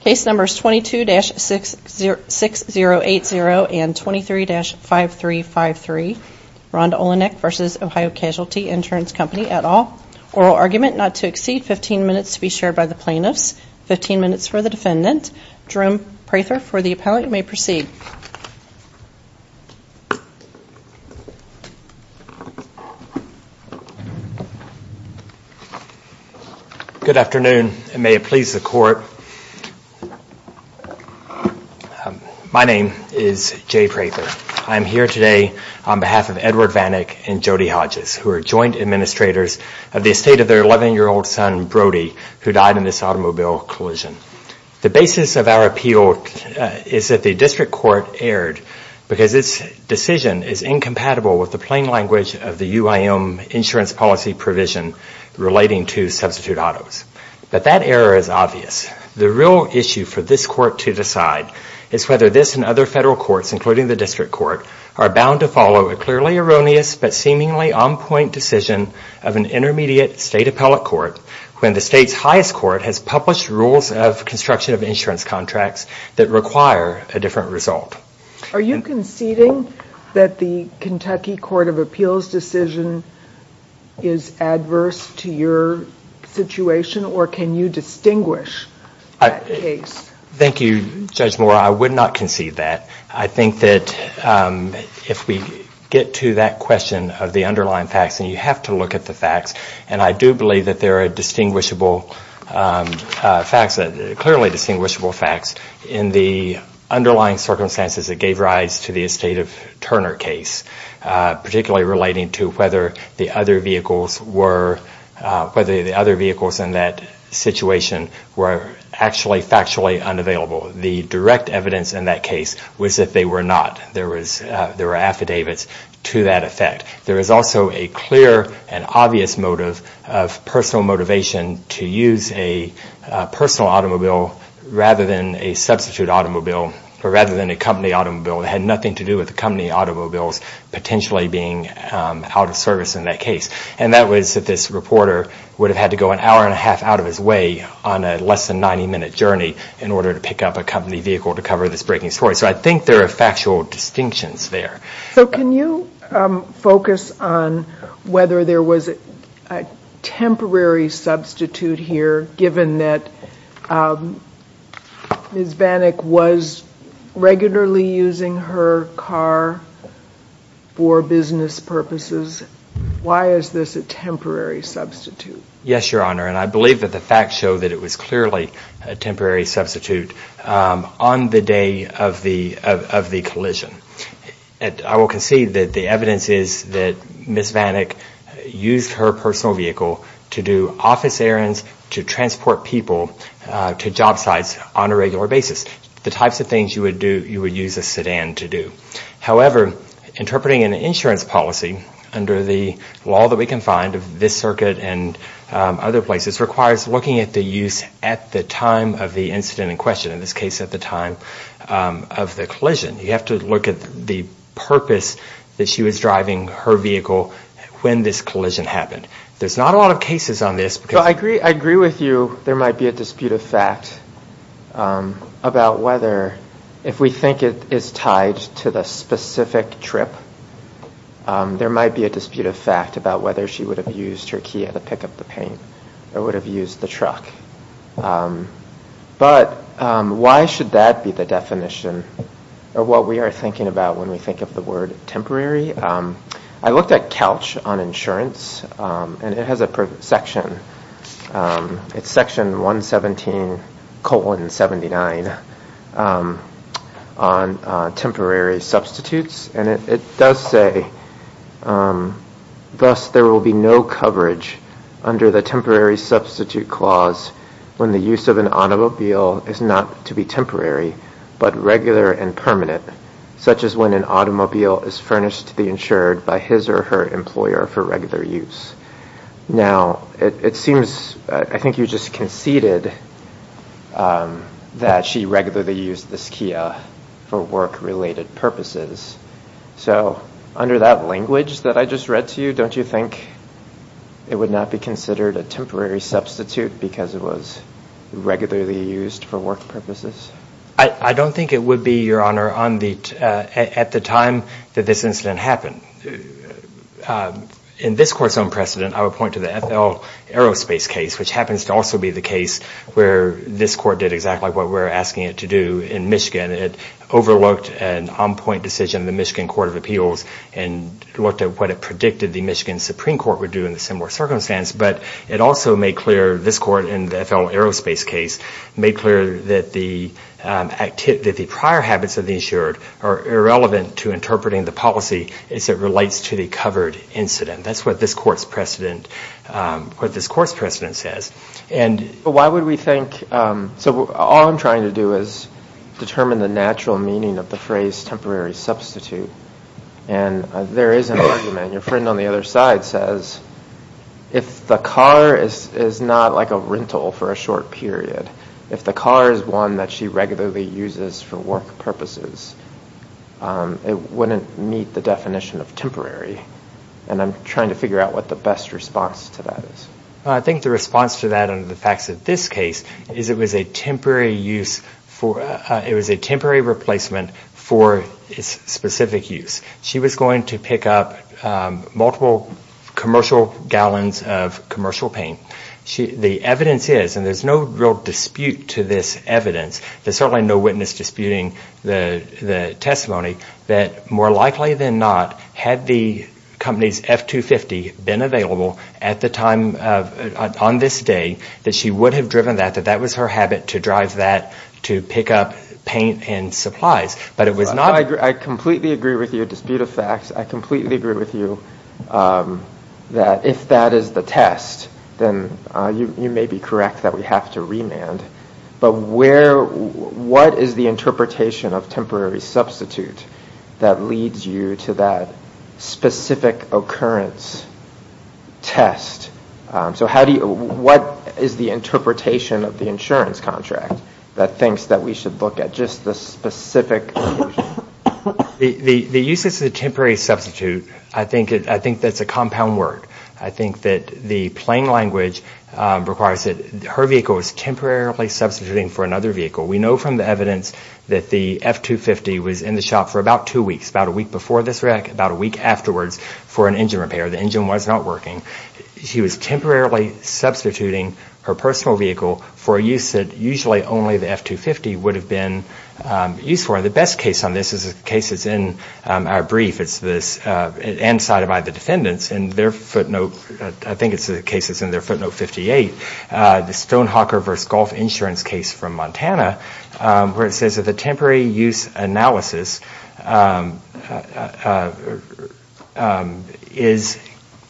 Case numbers 22-6080 and 23-5353, Rhonda Olenik v. Ohio Casualty Insurance Company, et al. Oral argument not to exceed 15 minutes to be shared by the plaintiffs, 15 minutes for the defendant. Jerome Prather for the appellate, you may proceed. Good afternoon, and may it please the court. My name is Jay Prather. I am here today on behalf of Edward Vanik and Jody Hodges, who are joint administrators of the estate of their 11-year-old son, Brody, who died in this automobile collision. The basis of our appeal is that the district court erred because its decision is incompatible with the plain language of the UIM insurance policy provision relating to substitute autos. But that error is obvious. The real issue for this court to decide is whether this and other federal courts, including the district court, are bound to follow a clearly erroneous but seemingly on-point decision of an intermediate state appellate court when the state's highest court has published rules of construction of insurance contracts that require a different result. Are you conceding that the Kentucky Court of Appeals decision is adverse to your situation, or can you distinguish that case? Thank you, Judge Moore. I would not concede that. I think that if we get to that question of the underlying facts, and you have to look at the facts, and I do believe that there are clearly distinguishable facts in the underlying circumstances that gave rise to the estate of Turner case, particularly relating to whether the other vehicles in that situation were actually factually unavailable. The direct evidence in that case was that they were not. There were affidavits to that effect. There is also a clear and obvious motive of personal motivation to use a personal automobile rather than a substitute automobile, or rather than a company automobile that had nothing to do with the company automobiles potentially being out of service in that case. And that was that this reporter would have had to go an hour and a half out of his way on a less than 90-minute journey in order to pick up a company vehicle to cover this breaking story. So I think there are factual distinctions there. So can you focus on whether there was a temporary substitute here, given that Ms. Vanek was regularly using her car for business purposes? Why is this a temporary substitute? Yes, Your Honor, and I believe that the facts show that it was clearly a temporary substitute on the day of the collision. I will concede that the evidence is that Ms. Vanek used her personal vehicle to do office errands, to transport people to job sites on a regular basis, the types of things you would use a sedan to do. However, interpreting an insurance policy under the law that we can find of this circuit and other places requires looking at the use at the time of the incident in question, in this case at the time of the collision. You have to look at the purpose that she was driving her vehicle when this collision happened. There's not a lot of cases on this. I agree with you there might be a dispute of fact about whether, if we think it is tied to the specific trip, there might be a dispute of fact about whether she would have used her Kia to pick up the paint or would have used the truck. But why should that be the definition of what we are thinking about when we think of the word temporary? I looked at CALCH on insurance and it has a section. It's section 117 colon 79 on temporary substitutes, and it does say, Thus, there will be no coverage under the temporary substitute clause when the use of an automobile is not to be temporary, but regular and permanent, such as when an automobile is furnished to be insured by his or her employer for regular use. Now, it seems, I think you just conceded that she regularly used this Kia for work-related purposes. So under that language that I just read to you, don't you think it would not be considered a temporary substitute because it was regularly used for work purposes? I don't think it would be, Your Honor, at the time that this incident happened. In this court's own precedent, I would point to the FL Aerospace case, which happens to also be the case where this court did exactly what we're asking it to do in Michigan. It overlooked an on-point decision in the Michigan Court of Appeals and looked at what it predicted the Michigan Supreme Court would do in a similar circumstance, but it also made clear this court in the FL Aerospace case made clear that the prior habits of the insured are irrelevant to interpreting the policy as it relates to the covered incident. That's what this court's precedent says. So all I'm trying to do is determine the natural meaning of the phrase temporary substitute, and there is an argument. Your friend on the other side says if the car is not like a rental for a short period, if the car is one that she regularly uses for work purposes, it wouldn't meet the definition of temporary, and I'm trying to figure out what the best response to that is. I think the response to that under the facts of this case is it was a temporary replacement for its specific use. She was going to pick up multiple commercial gallons of commercial paint. The evidence is, and there's no real dispute to this evidence, there's certainly no witness disputing the testimony, that more likely than not, had the company's F-250 been available at the time on this day, that she would have driven that, that that was her habit to drive that to pick up paint and supplies. But it was not. I completely agree with your dispute of facts. I completely agree with you that if that is the test, then you may be correct that we have to remand. But what is the interpretation of temporary substitute that leads you to that specific occurrence test? So what is the interpretation of the insurance contract that thinks that we should look at just the specific occurrence? The use of the temporary substitute, I think that's a compound word. I think that the plain language requires that her vehicle is temporarily substituting for another vehicle. We know from the evidence that the F-250 was in the shop for about two weeks, about a week before this wreck, about a week afterwards for an engine repair. The engine was not working. She was temporarily substituting her personal vehicle for a use that usually only the F-250 would have been used for. The best case on this is a case that's in our brief. And cited by the defendants in their footnote, I think it's a case that's in their footnote 58, the Stonehawker v. Golf Insurance case from Montana, where it says that the temporary use analysis is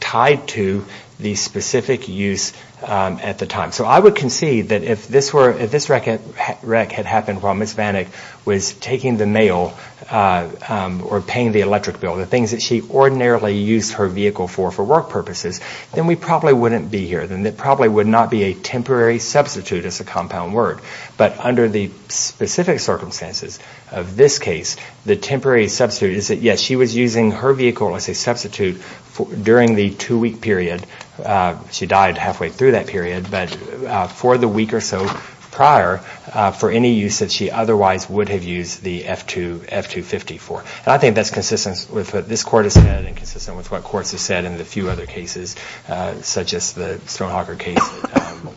tied to the specific use at the time. So I would concede that if this wreck had happened while Ms. Vanek was taking the mail or paying the electric bill, the things that she ordinarily used her vehicle for, for work purposes, then we probably wouldn't be here. Then it probably would not be a temporary substitute as a compound word. But under the specific circumstances of this case, the temporary substitute is that, yes, she was using her vehicle as a substitute during the two-week period. She died halfway through that period. But for the week or so prior, for any use that she otherwise would have used the F-250 for. And I think that's consistent with what this Court has said and consistent with what courts have said in the few other cases, such as the Stonehawker case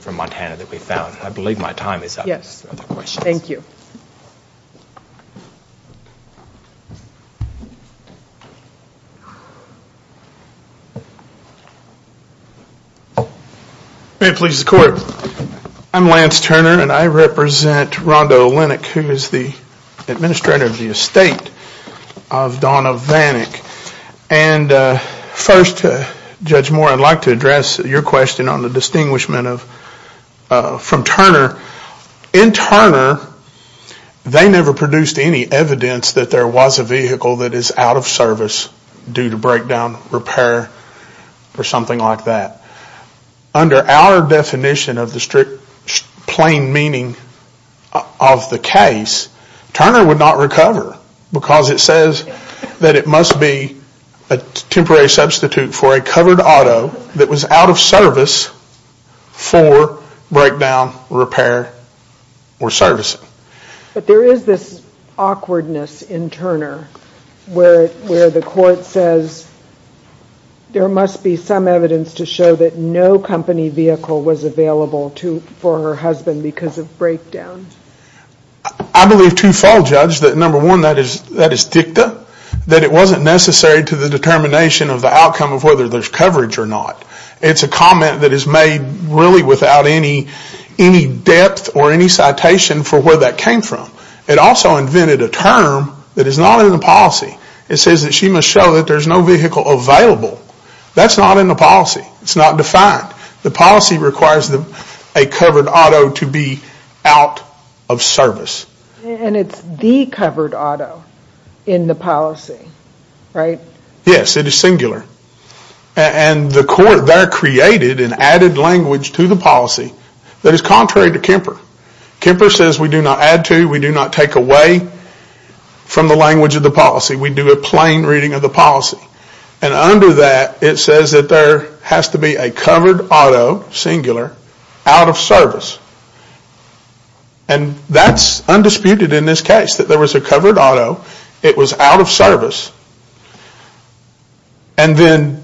from Montana that we found. I believe my time is up. Thank you. May it please the Court. I'm Lance Turner and I represent Rondo Linnick, who is the administrator of the estate of Donna Vanek. And first, Judge Moore, I'd like to address your question on the distinguishment from Turner. In Turner, they never produced any evidence that there was a vehicle that is out of service due to breakdown, repair, or something like that. Under our definition of the strict plain meaning of the case, Turner would not recover because it says that it must be a temporary substitute for a covered auto that was out of service for breakdown, repair, or servicing. But there is this awkwardness in Turner where the Court says there must be some evidence to show that no company vehicle was available for her husband because of breakdown. I believe two-fold, Judge. Number one, that is dicta. That it wasn't necessary to the determination of the outcome of whether there's coverage or not. It's a comment that is made really without any depth or any citation for where that came from. It also invented a term that is not in the policy. It says that she must show that there's no vehicle available. That's not in the policy. It's not defined. It's not. The policy requires a covered auto to be out of service. And it's the covered auto in the policy, right? Yes, it is singular. And the Court there created and added language to the policy that is contrary to Kemper. Kemper says we do not add to, we do not take away from the language of the policy. We do a plain reading of the policy. And under that, it says that there has to be a covered auto, singular, out of service. And that's undisputed in this case, that there was a covered auto. It was out of service. And then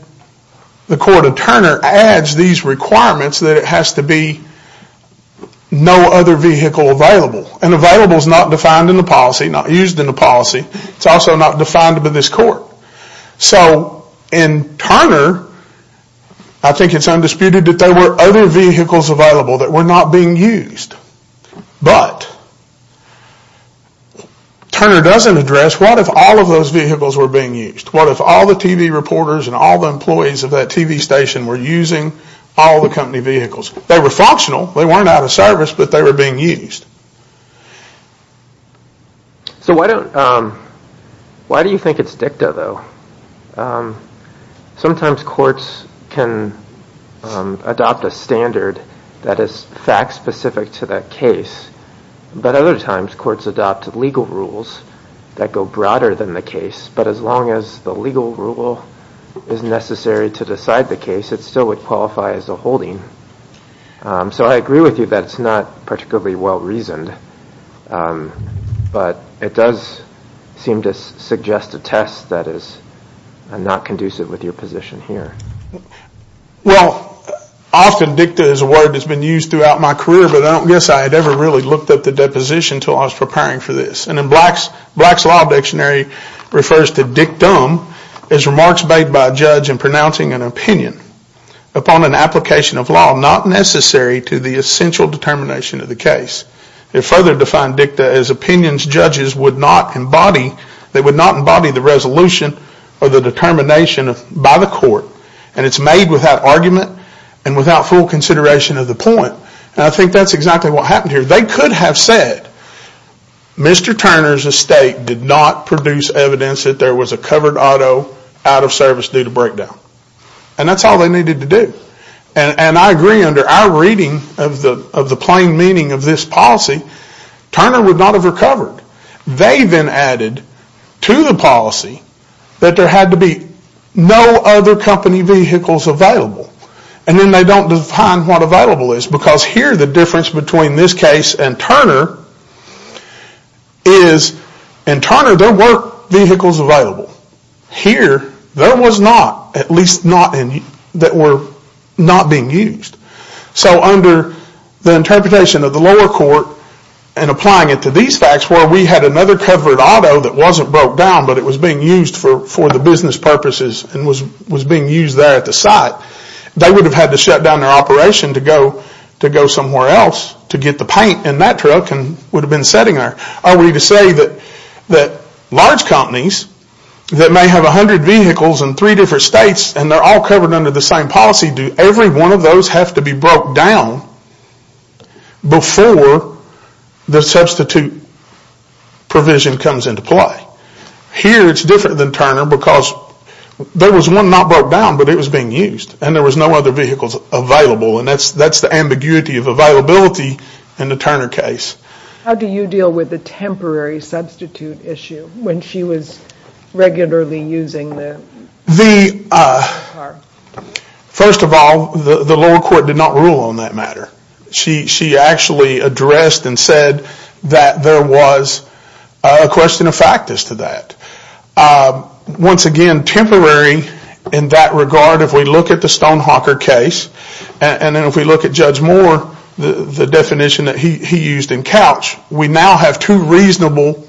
the Court of Turner adds these requirements that it has to be no other vehicle available. And available is not defined in the policy, not used in the policy. It's also not defined by this Court. So in Turner, I think it's undisputed that there were other vehicles available that were not being used. But Turner doesn't address what if all of those vehicles were being used? What if all the TV reporters and all the employees of that TV station were using all the company vehicles? They were functional. They weren't out of service, but they were being used. So why do you think it's dicta, though? Sometimes courts can adopt a standard that is fact-specific to that case. But other times, courts adopt legal rules that go broader than the case. But as long as the legal rule is necessary to decide the case, it still would qualify as a holding. So I agree with you that it's not particularly well-reasoned. But it does seem to suggest a test that is not conducive with your position here. Well, often dicta is a word that's been used throughout my career, but I don't guess I had ever really looked up the deposition until I was preparing for this. And in Black's Law Dictionary, it refers to dictum as remarks made by a judge in pronouncing an opinion upon an application of law not necessary to the essential determination of the case. It further defined dicta as opinions judges would not embody. They would not embody the resolution or the determination by the court. And it's made without argument and without full consideration of the point. And I think that's exactly what happened here. They could have said, Mr. Turner's estate did not produce evidence that there was a covered auto out of service due to breakdown. And that's all they needed to do. And I agree under our reading of the plain meaning of this policy, Turner would not have recovered. They then added to the policy that there had to be no other company vehicles available. And then they don't define what available is because here the difference between this case and Turner is, in Turner there were vehicles available. Here there was not, at least not that were not being used. So under the interpretation of the lower court and applying it to these facts where we had another covered auto that wasn't broke down but it was being used for the business purposes and was being used there at the site, they would have had to shut down their operation to go somewhere else to get the paint in that truck and would have been sitting there. Are we to say that large companies that may have a hundred vehicles in three different states and they're all covered under the same policy, do every one of those have to be broke down before the substitute provision comes into play? Here it's different than Turner because there was one not broke down but it was being used. And there was no other vehicles available. And that's the ambiguity of availability in the Turner case. How do you deal with the temporary substitute issue when she was regularly using the car? First of all, the lower court did not rule on that matter. She actually addressed and said that there was a question of fact as to that. Once again, temporary in that regard, if we look at the Stonehawker case and then if we look at Judge Moore, the definition that he used in Couch, we now have two reasonable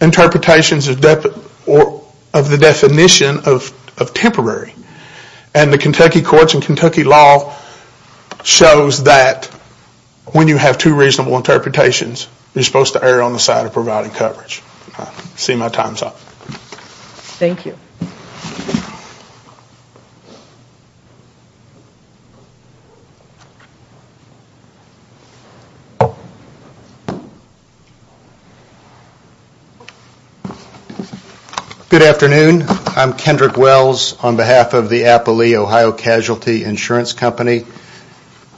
interpretations of the definition of temporary. And the Kentucky courts and Kentucky law shows that when you have two reasonable interpretations, you're supposed to err on the side of providing coverage. I see my time's up. Thank you. Good afternoon. I'm Kendrick Wells on behalf of the Appley, Ohio Casualty Insurance Company.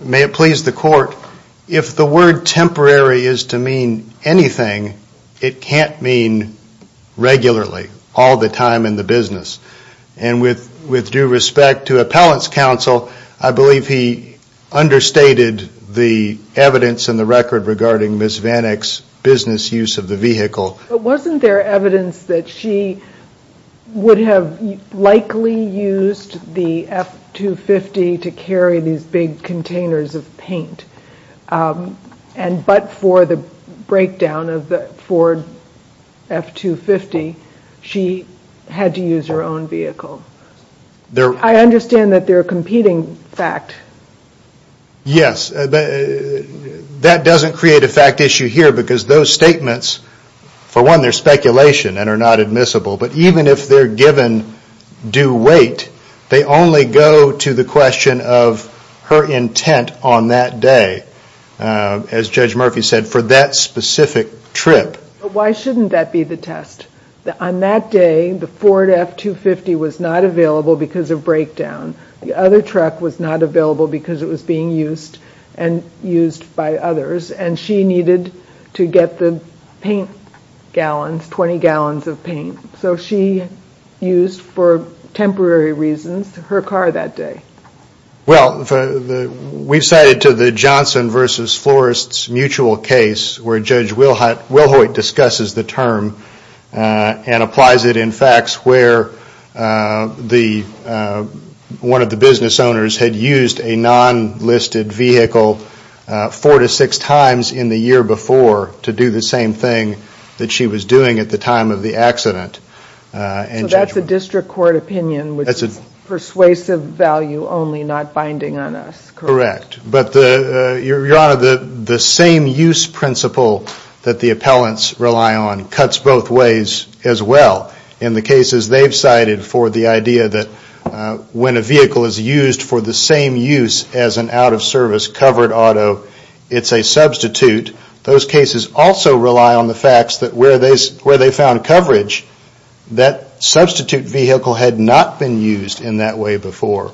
May it please the court, if the word temporary is to mean anything, it can't mean regularly, all the time in the business. And with due respect to Appellant's counsel, I believe he understated the evidence in the record regarding Ms. VanEck's business use of the vehicle. But wasn't there evidence that she would have likely used the F-250 to carry these big containers of paint? But for the breakdown of the Ford F-250, she had to use her own vehicle. I understand that they're a competing fact. Yes. That doesn't create a fact issue here because those statements, for one, they're speculation and are not admissible. But even if they're given due weight, they only go to the question of her intent on that day, as Judge Murphy said, for that specific trip. Why shouldn't that be the test? On that day, the Ford F-250 was not available because of breakdown. The other truck was not available because it was being used and used by others. And she needed to get the paint gallons, 20 gallons of paint. So she used, for temporary reasons, her car that day. Well, we've cited to the Johnson versus Florests mutual case where Judge Wilhoyt discusses the term and applies it in facts where one of the business owners had used a non-listed vehicle four to six times in the year before to do the same thing that she was doing at the time of the accident. So that's a district court opinion with persuasive value only, not binding on us. Correct. But, Your Honor, the same use principle that the appellants rely on cuts both ways as well. In the cases they've cited for the idea that when a vehicle is used for the same use as an out-of-service covered auto, it's a substitute, those cases also rely on the facts that where they found coverage, that substitute vehicle had not been used in that way before.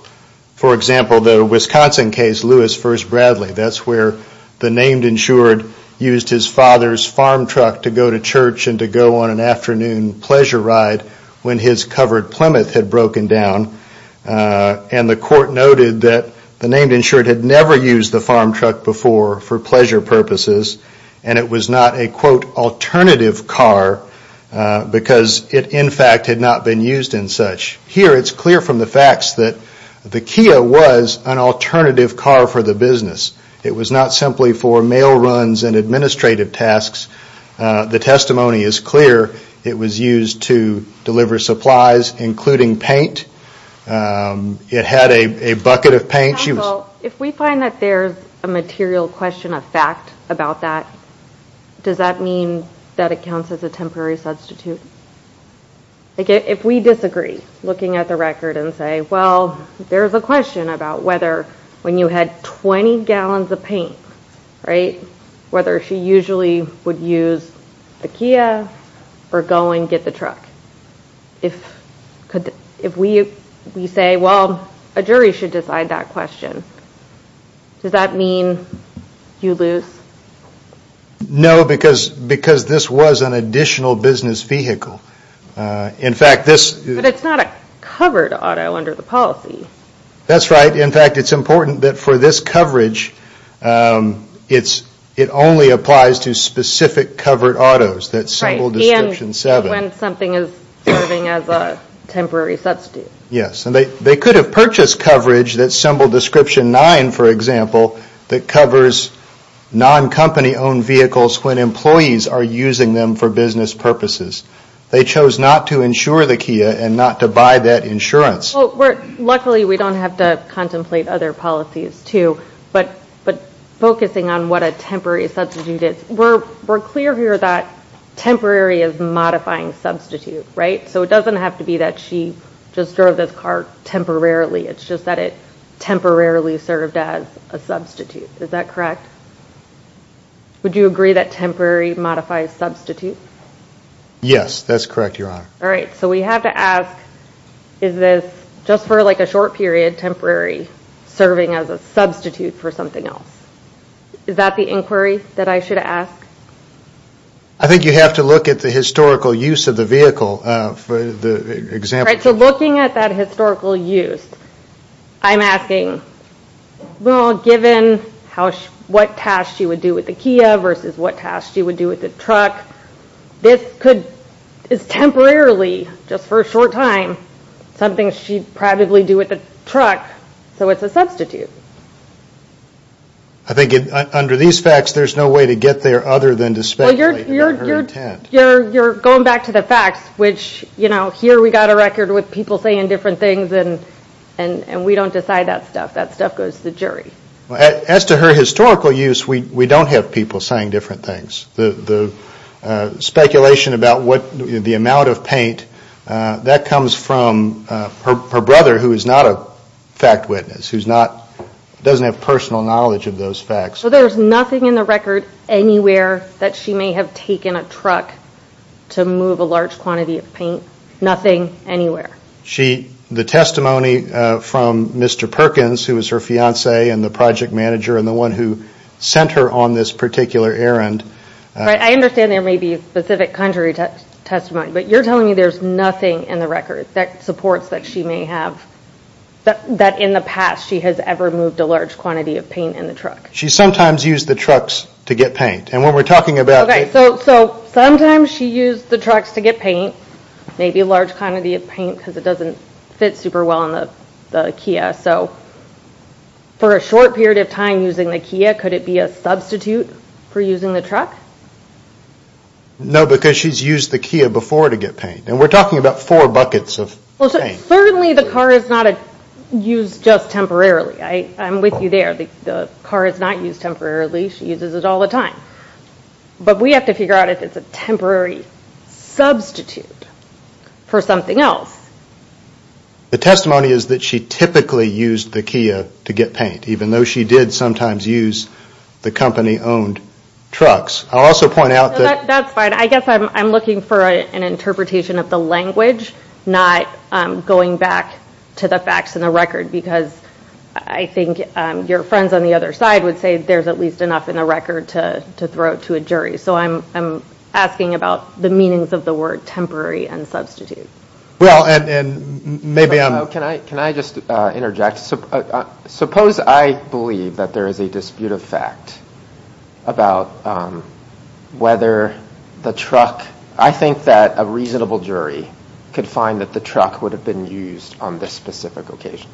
For example, the Wisconsin case, Lewis v. Bradley, that's where the named insured used his father's farm truck to go to church and to go on an afternoon pleasure ride when his covered Plymouth had broken down. And the court noted that the named insured had never used the farm truck before for pleasure purposes and it was not a, quote, alternative car because it, in fact, had not been used in such. Here, it's clear from the facts that the Kia was an alternative car for the business. It was not simply for mail runs and administrative tasks. The testimony is clear. It was used to deliver supplies, including paint. It had a bucket of paint. Counsel, if we find that there's a material question of fact about that, does that mean that it counts as a temporary substitute? If we disagree, looking at the record and say, well, there's a question about whether when you had 20 gallons of paint, right, whether she usually would use the Kia or go and get the truck. If we say, well, a jury should decide that question, does that mean you lose? No, because this was an additional business vehicle. In fact, this But it's not a covered auto under the policy. That's right. In fact, it's important that for this coverage, it only applies to specific covered autos that symbol description 7. Right, and when something is serving as a temporary substitute. Yes, and they could have purchased coverage that symbol description 9, for example, that covers non-company owned vehicles when employees are using them for business purposes. They chose not to insure the Kia and not to buy that insurance. Well, luckily, we don't have to contemplate other policies, too. But focusing on what a temporary substitute is, we're clear here that temporary is modifying substitute, right? So it doesn't have to be that she just drove this car temporarily. It's just that it temporarily served as a substitute. Is that correct? Would you agree that temporary modifies substitute? Yes, that's correct. All right. So we have to ask, is this just for like a short period temporary serving as a substitute for something else? Is that the inquiry that I should ask? I think you have to look at the historical use of the vehicle for the example. All right, so looking at that historical use, I'm asking, well, given what tasks she would do with the Kia versus what tasks she would do with the truck, this is temporarily, just for a short time, something she'd probably do with the truck. So it's a substitute. I think under these facts, there's no way to get there other than to speculate. You're going back to the facts, which, you know, here we've got a record with people saying different things, and we don't decide that stuff. That stuff goes to the jury. As to her historical use, we don't have people saying different things. The speculation about the amount of paint, that comes from her brother, who is not a fact witness, who doesn't have personal knowledge of those facts. So there's nothing in the record anywhere that she may have taken a truck to move a large quantity of paint? Nothing anywhere? The testimony from Mr. Perkins, who is her fiancé and the project manager and the one who sent her on this particular errand. I understand there may be specific contrary testimony, but you're telling me there's nothing in the record that supports that she may have, that in the past she has ever moved a large quantity of paint in the truck? She sometimes used the trucks to get paint. So sometimes she used the trucks to get paint, maybe a large quantity of paint because it doesn't fit super well in the Kia. For a short period of time using the Kia, could it be a substitute for using the truck? No, because she's used the Kia before to get paint. We're talking about four buckets of paint. Well, certainly the car is not used just temporarily. I'm with you there. The car is not used temporarily. She uses it all the time. But we have to figure out if it's a temporary substitute for something else. The testimony is that she typically used the Kia to get paint, even though she did sometimes use the company-owned trucks. I'll also point out that... That's fine. I guess I'm looking for an interpretation of the language, not going back to the facts in the record, because I think your friends on the other side would say there's at least enough in the record to throw to a jury. So I'm asking about the meanings of the word temporary and substitute. Well, and maybe I'm... Can I just interject? Suppose I believe that there is a dispute of fact about whether the truck... I think that a reasonable jury could find that the truck would have been used on this specific occasion.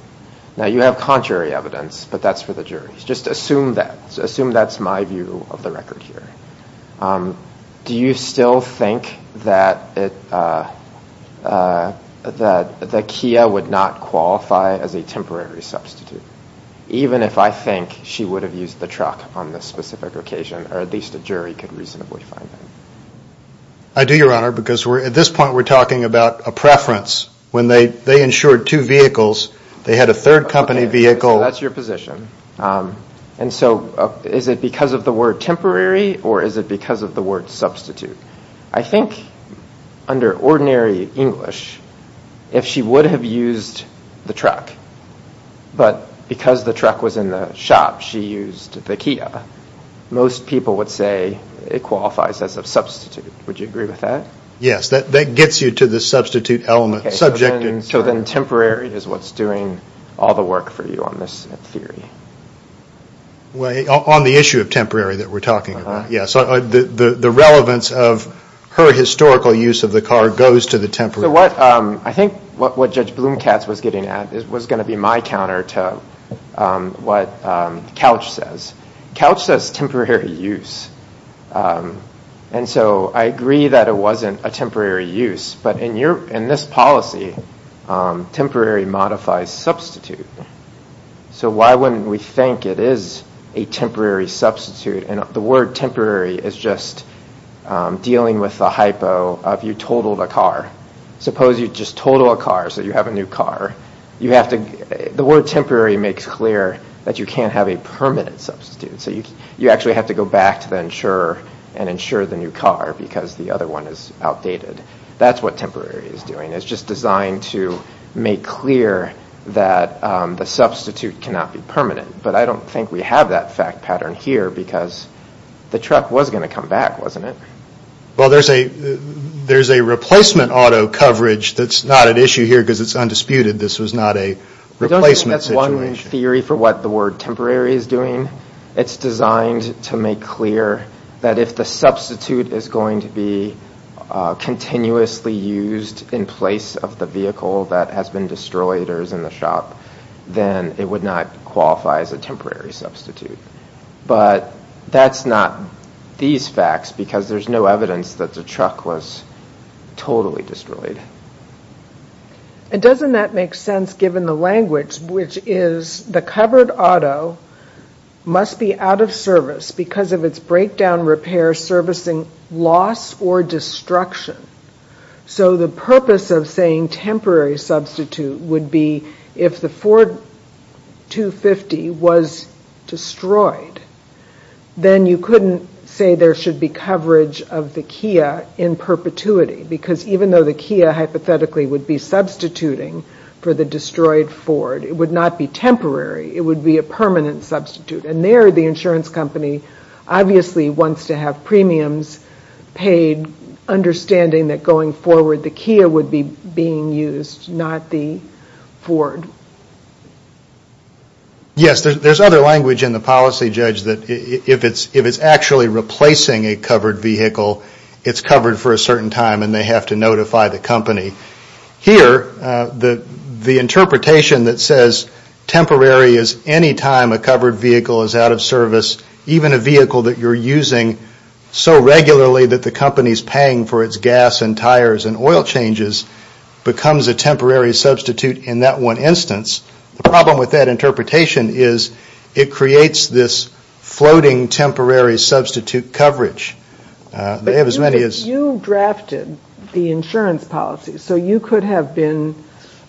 Now, you have contrary evidence, but that's for the jury. Just assume that. Assume that's my view of the record here. Do you still think that the Kia would not qualify as a temporary substitute, even if I think she would have used the truck on this specific occasion, or at least a jury could reasonably find that? I do, Your Honor, because at this point we're talking about a preference. When they insured two vehicles, they had a third company vehicle... Okay, so that's your position. And so is it because of the word temporary or is it because of the word substitute? I think under ordinary English, if she would have used the truck, but because the truck was in the shop, she used the Kia, most people would say it qualifies as a substitute. Would you agree with that? Yes, that gets you to the substitute element. Okay, so then temporary is what's doing all the work for you on this theory. On the issue of temporary that we're talking about, yes. The relevance of her historical use of the car goes to the temporary. I think what Judge Blumkatz was getting at was going to be my counter to what Couch says. Couch says temporary use, and so I agree that it wasn't a temporary use, but in this policy, temporary modifies substitute. So why wouldn't we think it is a temporary substitute? And the word temporary is just dealing with the hypo of you totaled a car. Suppose you just total a car so you have a new car. The word temporary makes clear that you can't have a permanent substitute. So you actually have to go back to the insurer and insure the new car because the other one is outdated. That's what temporary is doing. It's just designed to make clear that the substitute cannot be permanent. But I don't think we have that fact pattern here because the truck was going to come back, wasn't it? Well, there's a replacement auto coverage that's not an issue here because it's undisputed. This was not a replacement situation. I don't think that's one theory for what the word temporary is doing. It's designed to make clear that if the substitute is going to be continuously used in place of the vehicle that has been destroyed or is in the shop, then it would not qualify as a temporary substitute. But that's not these facts because there's no evidence that the truck was totally destroyed. And doesn't that make sense given the language which is the covered auto must be out of service because of its breakdown repair servicing loss or destruction. So the purpose of saying temporary substitute would be if the Ford 250 was destroyed, then you couldn't say there should be coverage of the Kia in perpetuity because even though the Kia hypothetically would be substituting for the destroyed Ford, it would not be temporary. It would be a permanent substitute. And there the insurance company obviously wants to have premiums paid, understanding that going forward the Kia would be being used, not the Ford. Yes, there's other language in the policy, Judge, that if it's actually replacing a covered vehicle, it's covered for a certain time and they have to notify the company. Here the interpretation that says temporary is any time a covered vehicle is out of service, even a vehicle that you're using so regularly that the company is paying for its gas and tires and oil changes becomes a temporary substitute in that one instance. The problem with that interpretation is it creates this floating temporary substitute coverage. But you drafted the insurance policy, so you could have been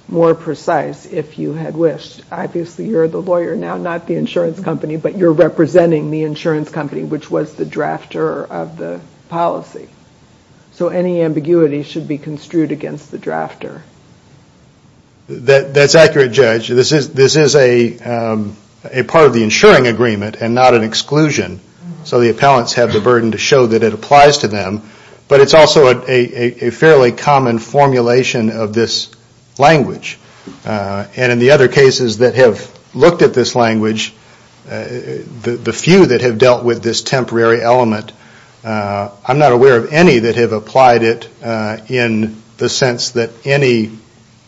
more precise if you had wished. Obviously you're the lawyer now, not the insurance company, but you're representing the insurance company which was the drafter of the policy. So any ambiguity should be construed against the drafter. That's accurate, Judge. This is a part of the insuring agreement and not an exclusion. So the appellants have the burden to show that it applies to them, but it's also a fairly common formulation of this language. And in the other cases that have looked at this language, the few that have dealt with this temporary element, I'm not aware of any that have applied it in the sense that any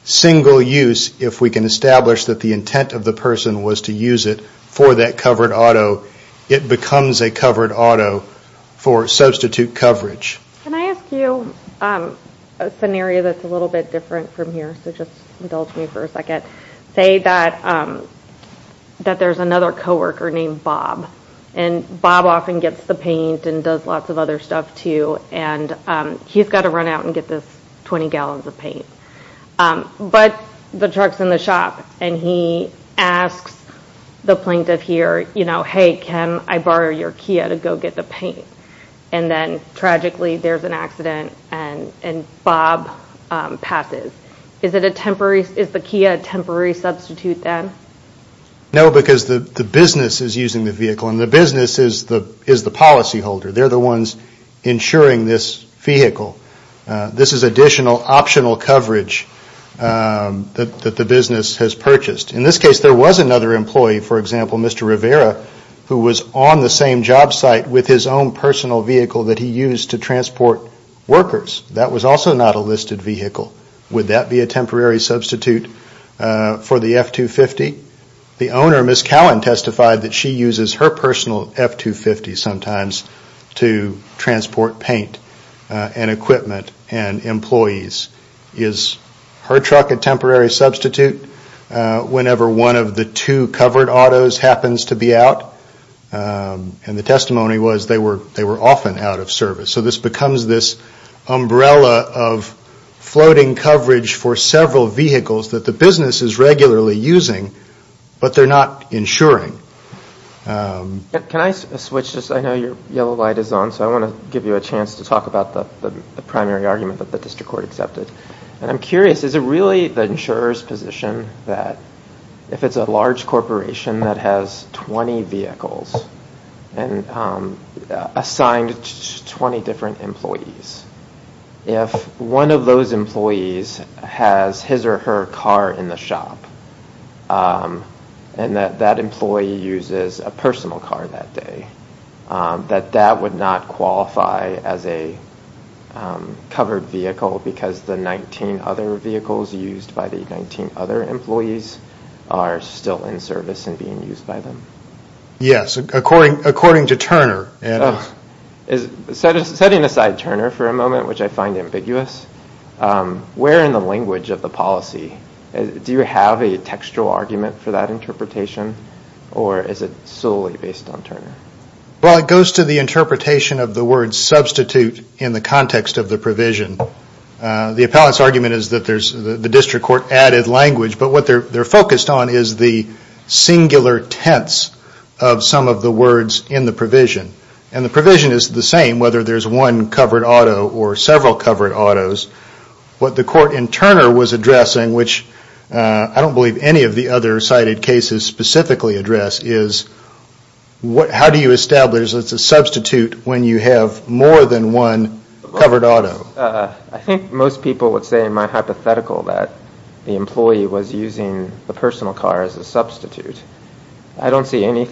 single use, if we can establish that the intent of the person was to use it for that covered auto, it becomes a covered auto for substitute coverage. Can I ask you a scenario that's a little bit different from here? So just indulge me for a second. Say that there's another coworker named Bob. And Bob often gets the paint and does lots of other stuff too, and he's got to run out and get this 20 gallons of paint. But the truck's in the shop and he asks the plaintiff here, you know, hey, can I borrow your Kia to go get the paint? And then tragically there's an accident and Bob passes. Is the Kia a temporary substitute then? No, because the business is using the vehicle, and the business is the policyholder. They're the ones insuring this vehicle. This is additional optional coverage that the business has purchased. In this case, there was another employee, for example, Mr. Rivera, who was on the same job site with his own personal vehicle that he used to transport workers. That was also not a listed vehicle. Would that be a temporary substitute for the F-250? The owner, Ms. Cowan, testified that she uses her personal F-250 sometimes to transport paint. And equipment and employees. Is her truck a temporary substitute whenever one of the two covered autos happens to be out? And the testimony was they were often out of service. So this becomes this umbrella of floating coverage for several vehicles that the business is regularly using, but they're not insuring. Can I switch? I know your yellow light is on, so I want to give you a chance to talk about the primary argument that the district court accepted. I'm curious, is it really the insurer's position that if it's a large corporation that has 20 vehicles and assigned 20 different employees, if one of those employees has his or her car in the shop and that employee uses a personal car that day, that that would not qualify as a covered vehicle because the 19 other vehicles used by the 19 other employees are still in service and being used by them? Yes, according to Turner. Setting aside Turner for a moment, which I find ambiguous, where in the language of the policy do you have a textual argument for that interpretation or is it solely based on Turner? Well, it goes to the interpretation of the word substitute in the context of the provision. The appellant's argument is that the district court added language, but what they're focused on is the singular tense of some of the words in the provision. And the provision is the same whether there's one covered auto or several covered autos. What the court in Turner was addressing, which I don't believe any of the other cited cases specifically address, is how do you establish that it's a substitute when you have more than one covered auto? I think most people would say in my hypothetical that the employee was using the personal car as a substitute. I don't see any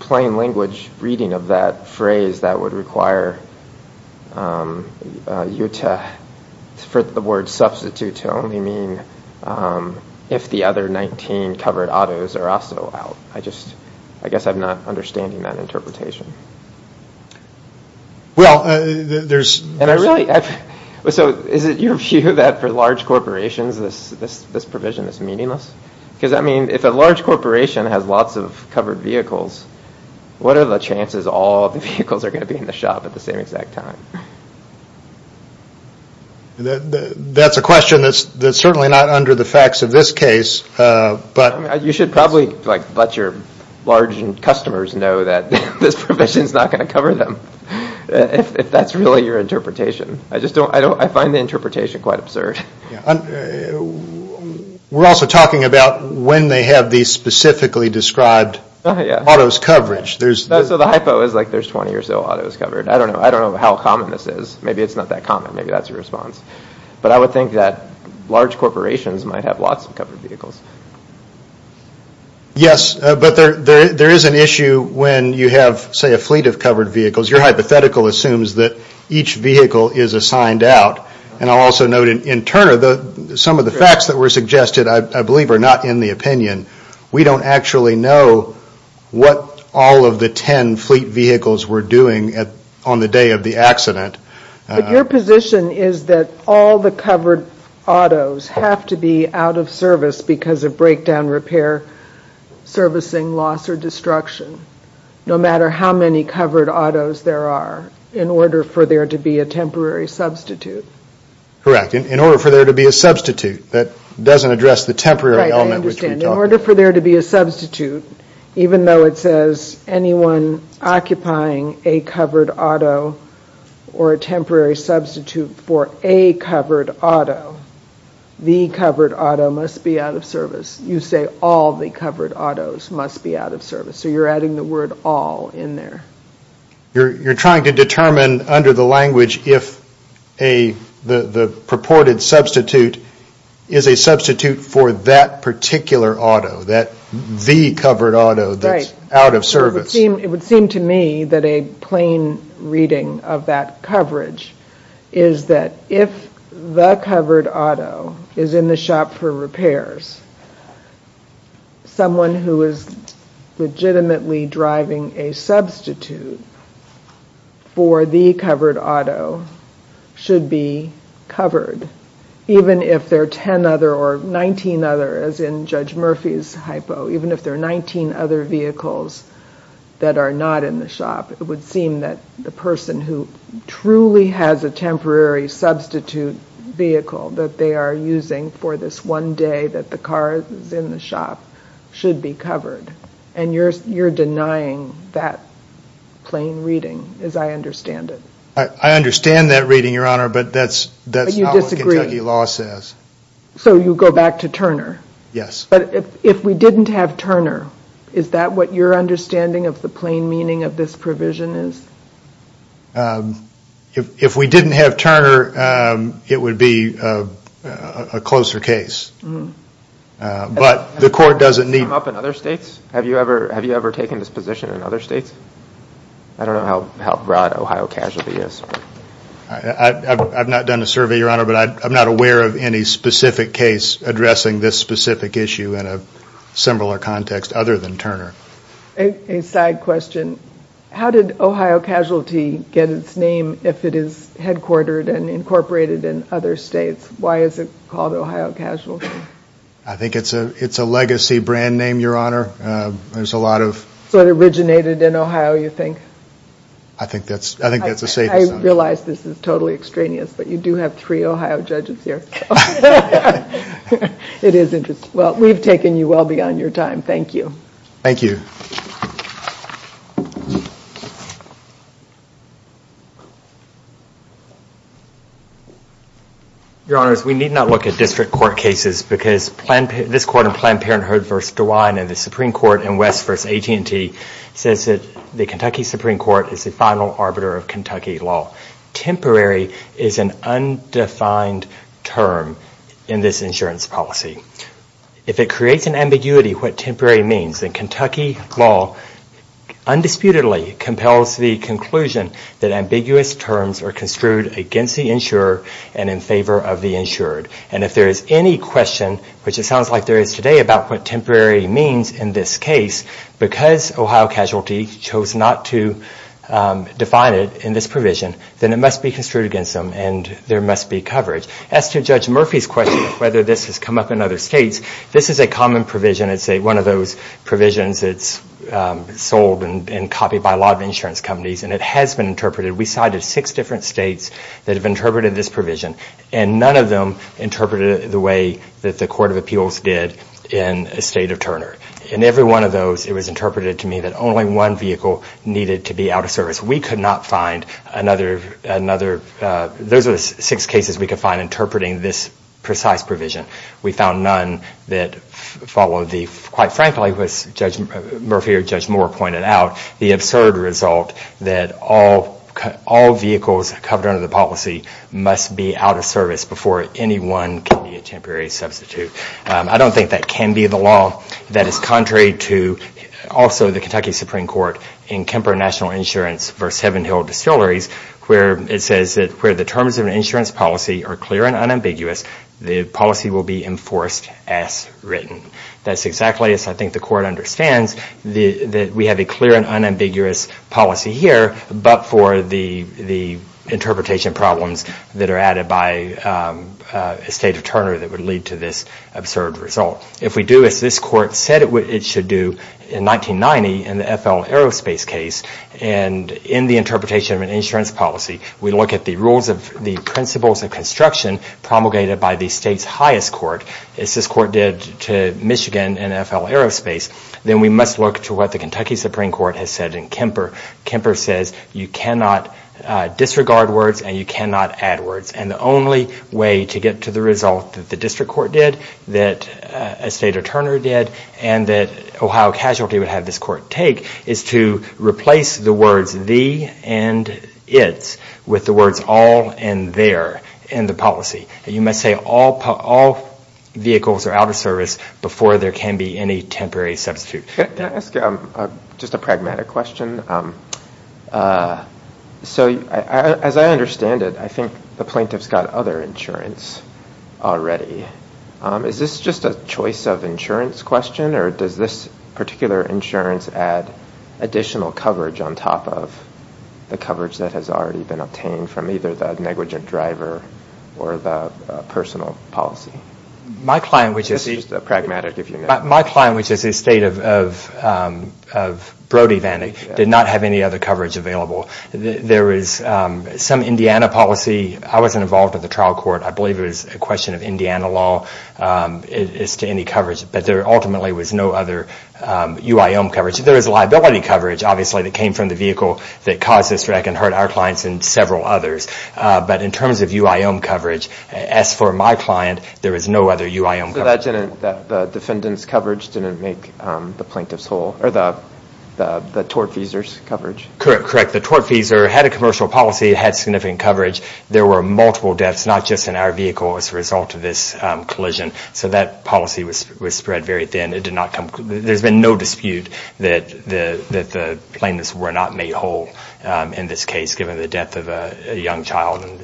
plain language reading of that phrase that would require for the word substitute to only mean if the other 19 covered autos are also out. I guess I'm not understanding that interpretation. Well, there's... So is it your view that for large corporations this provision is meaningless? Because, I mean, if a large corporation has lots of covered vehicles, what are the chances all of the vehicles are going to be in the shop at the same exact time? That's a question that's certainly not under the facts of this case, but... You should probably let your large customers know that this provision is not going to cover them, if that's really your interpretation. I find the interpretation quite absurd. We're also talking about when they have these specifically described autos covered. So the hypo is like there's 20 or so autos covered. I don't know how common this is. Maybe it's not that common. Maybe that's your response. But I would think that large corporations might have lots of covered vehicles. Yes, but there is an issue when you have, say, a fleet of covered vehicles. Your hypothetical assumes that each vehicle is assigned out. And I'll also note in Turner, some of the facts that were suggested, I believe, are not in the opinion. We don't actually know what all of the 10 fleet vehicles were doing on the day of the accident. But your position is that all the covered autos have to be out of service because of breakdown, repair, servicing, loss, or destruction, no matter how many covered autos there are, in order for there to be a temporary substitute. Correct. In order for there to be a substitute. That doesn't address the temporary element which we talked about. Right, I understand. In order for there to be a substitute, even though it says anyone occupying a covered auto or a temporary substitute for a covered auto, the covered auto must be out of service. You say all the covered autos must be out of service. So you're adding the word all in there. You're trying to determine under the language if the purported substitute is a substitute for that particular auto, that the covered auto that's out of service. It would seem to me that a plain reading of that coverage is that if the covered auto is in the shop for repairs, someone who is legitimately driving a substitute for the covered auto should be covered. Even if there are 10 other, or 19 other, as in Judge Murphy's hypo, even if there are 19 other vehicles that are not in the shop, it would seem that the person who truly has a temporary substitute vehicle that they are using for this one day that the car is in the shop should be covered. And you're denying that plain reading, as I understand it. I understand that reading, Your Honor, but that's not what Kentucky law says. So you go back to Turner. Yes. But if we didn't have Turner, is that what your understanding of the plain meaning of this provision is? If we didn't have Turner, it would be a closer case. But the court doesn't need... Have you ever taken this position in other states? I don't know how broad Ohio casualty is. I've not done a survey, Your Honor, but I'm not aware of any specific case addressing this specific issue in a similar context other than Turner. A side question. How did Ohio casualty get its name if it is headquartered and incorporated in other states? Why is it called Ohio casualty? I think it's a legacy brand name, Your Honor. There's a lot of... So it originated in Ohio, you think? I think that's a safe assumption. I realize this is totally extraneous, but you do have three Ohio judges here. It is interesting. Well, we've taken you well beyond your time. Thank you. Thank you. Your Honors, we need not look at district court cases because this court in Planned Parenthood v. DeWine and the Supreme Court in West v. AT&T says that the Kentucky Supreme Court is the final arbiter of Kentucky law. Temporary is an undefined term in this insurance policy. If it creates an ambiguity what temporary means, then Kentucky law undisputedly compels the conclusion that ambiguous terms are construed against the insurer and in favor of the insured. And if there is any question, which it sounds like there is today, about what temporary means in this case, because Ohio casualty chose not to define it in this provision, then it must be construed against them and there must be coverage. As to Judge Murphy's question of whether this has come up in other states, this is a common provision. It's one of those provisions that's sold and copied by a lot of insurance companies, and it has been interpreted. We cited six different states that have interpreted this provision, and none of them interpreted it the way that the Court of Appeals did in the state of Turner. In every one of those, it was interpreted to me that only one vehicle needed to be out of service. We could not find another – those are the six cases we could find interpreting this precise provision. We found none that followed the – quite frankly, as Judge Murphy or Judge Moore pointed out, the absurd result that all vehicles covered under the policy must be out of service before anyone can be a temporary substitute. I don't think that can be the law. That is contrary to also the Kentucky Supreme Court in Kemper National Insurance v. Heaven Hill Distilleries, where it says that where the terms of an insurance policy are clear and unambiguous, the policy will be enforced as written. That's exactly as I think the Court understands, that we have a clear and unambiguous policy here, but for the interpretation problems that are added by the state of Turner that would lead to this absurd result. If we do as this Court said it should do in 1990 in the FL Aerospace case, and in the interpretation of an insurance policy, we look at the rules of the principles of construction promulgated by the state's highest court, as this court did to Michigan and FL Aerospace, then we must look to what the Kentucky Supreme Court has said in Kemper. Kemper says you cannot disregard words and you cannot add words. And the only way to get to the result that the district court did, that a state of Turner did, and that Ohio Casualty would have this court take is to replace the words the and its with the words all and their in the policy. You must say all vehicles are out of service before there can be any temporary substitute. Can I ask just a pragmatic question? So as I understand it, I think the plaintiff's got other insurance already. Is this just a choice of insurance question or does this particular insurance add additional coverage on top of the coverage that has already been obtained from either the negligent driver or the personal policy? My client, which is a state of Brody, did not have any other coverage available. There is some Indiana policy. I wasn't involved with the trial court. I believe it was a question of Indiana law as to any coverage. But there ultimately was no other UIO coverage. There is liability coverage, obviously, that came from the vehicle that caused this wreck and hurt our clients and several others. But in terms of UIO coverage, as for my client, there is no other UIO coverage. So the defendant's coverage didn't make the plaintiff's whole or the tortfeasor's coverage? Correct. The tortfeasor had a commercial policy. It had significant coverage. There were multiple deaths, not just in our vehicle, as a result of this collision. So that policy was spread very thin. There has been no dispute that the plaintiffs were not made whole in this case, given the death of a young child and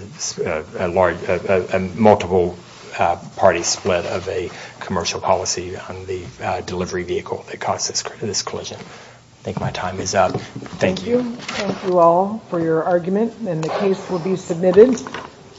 a multiple-party split of a commercial policy on the delivery vehicle that caused this collision. I think my time is up. Thank you. Thank you all for your argument. The case will be submitted.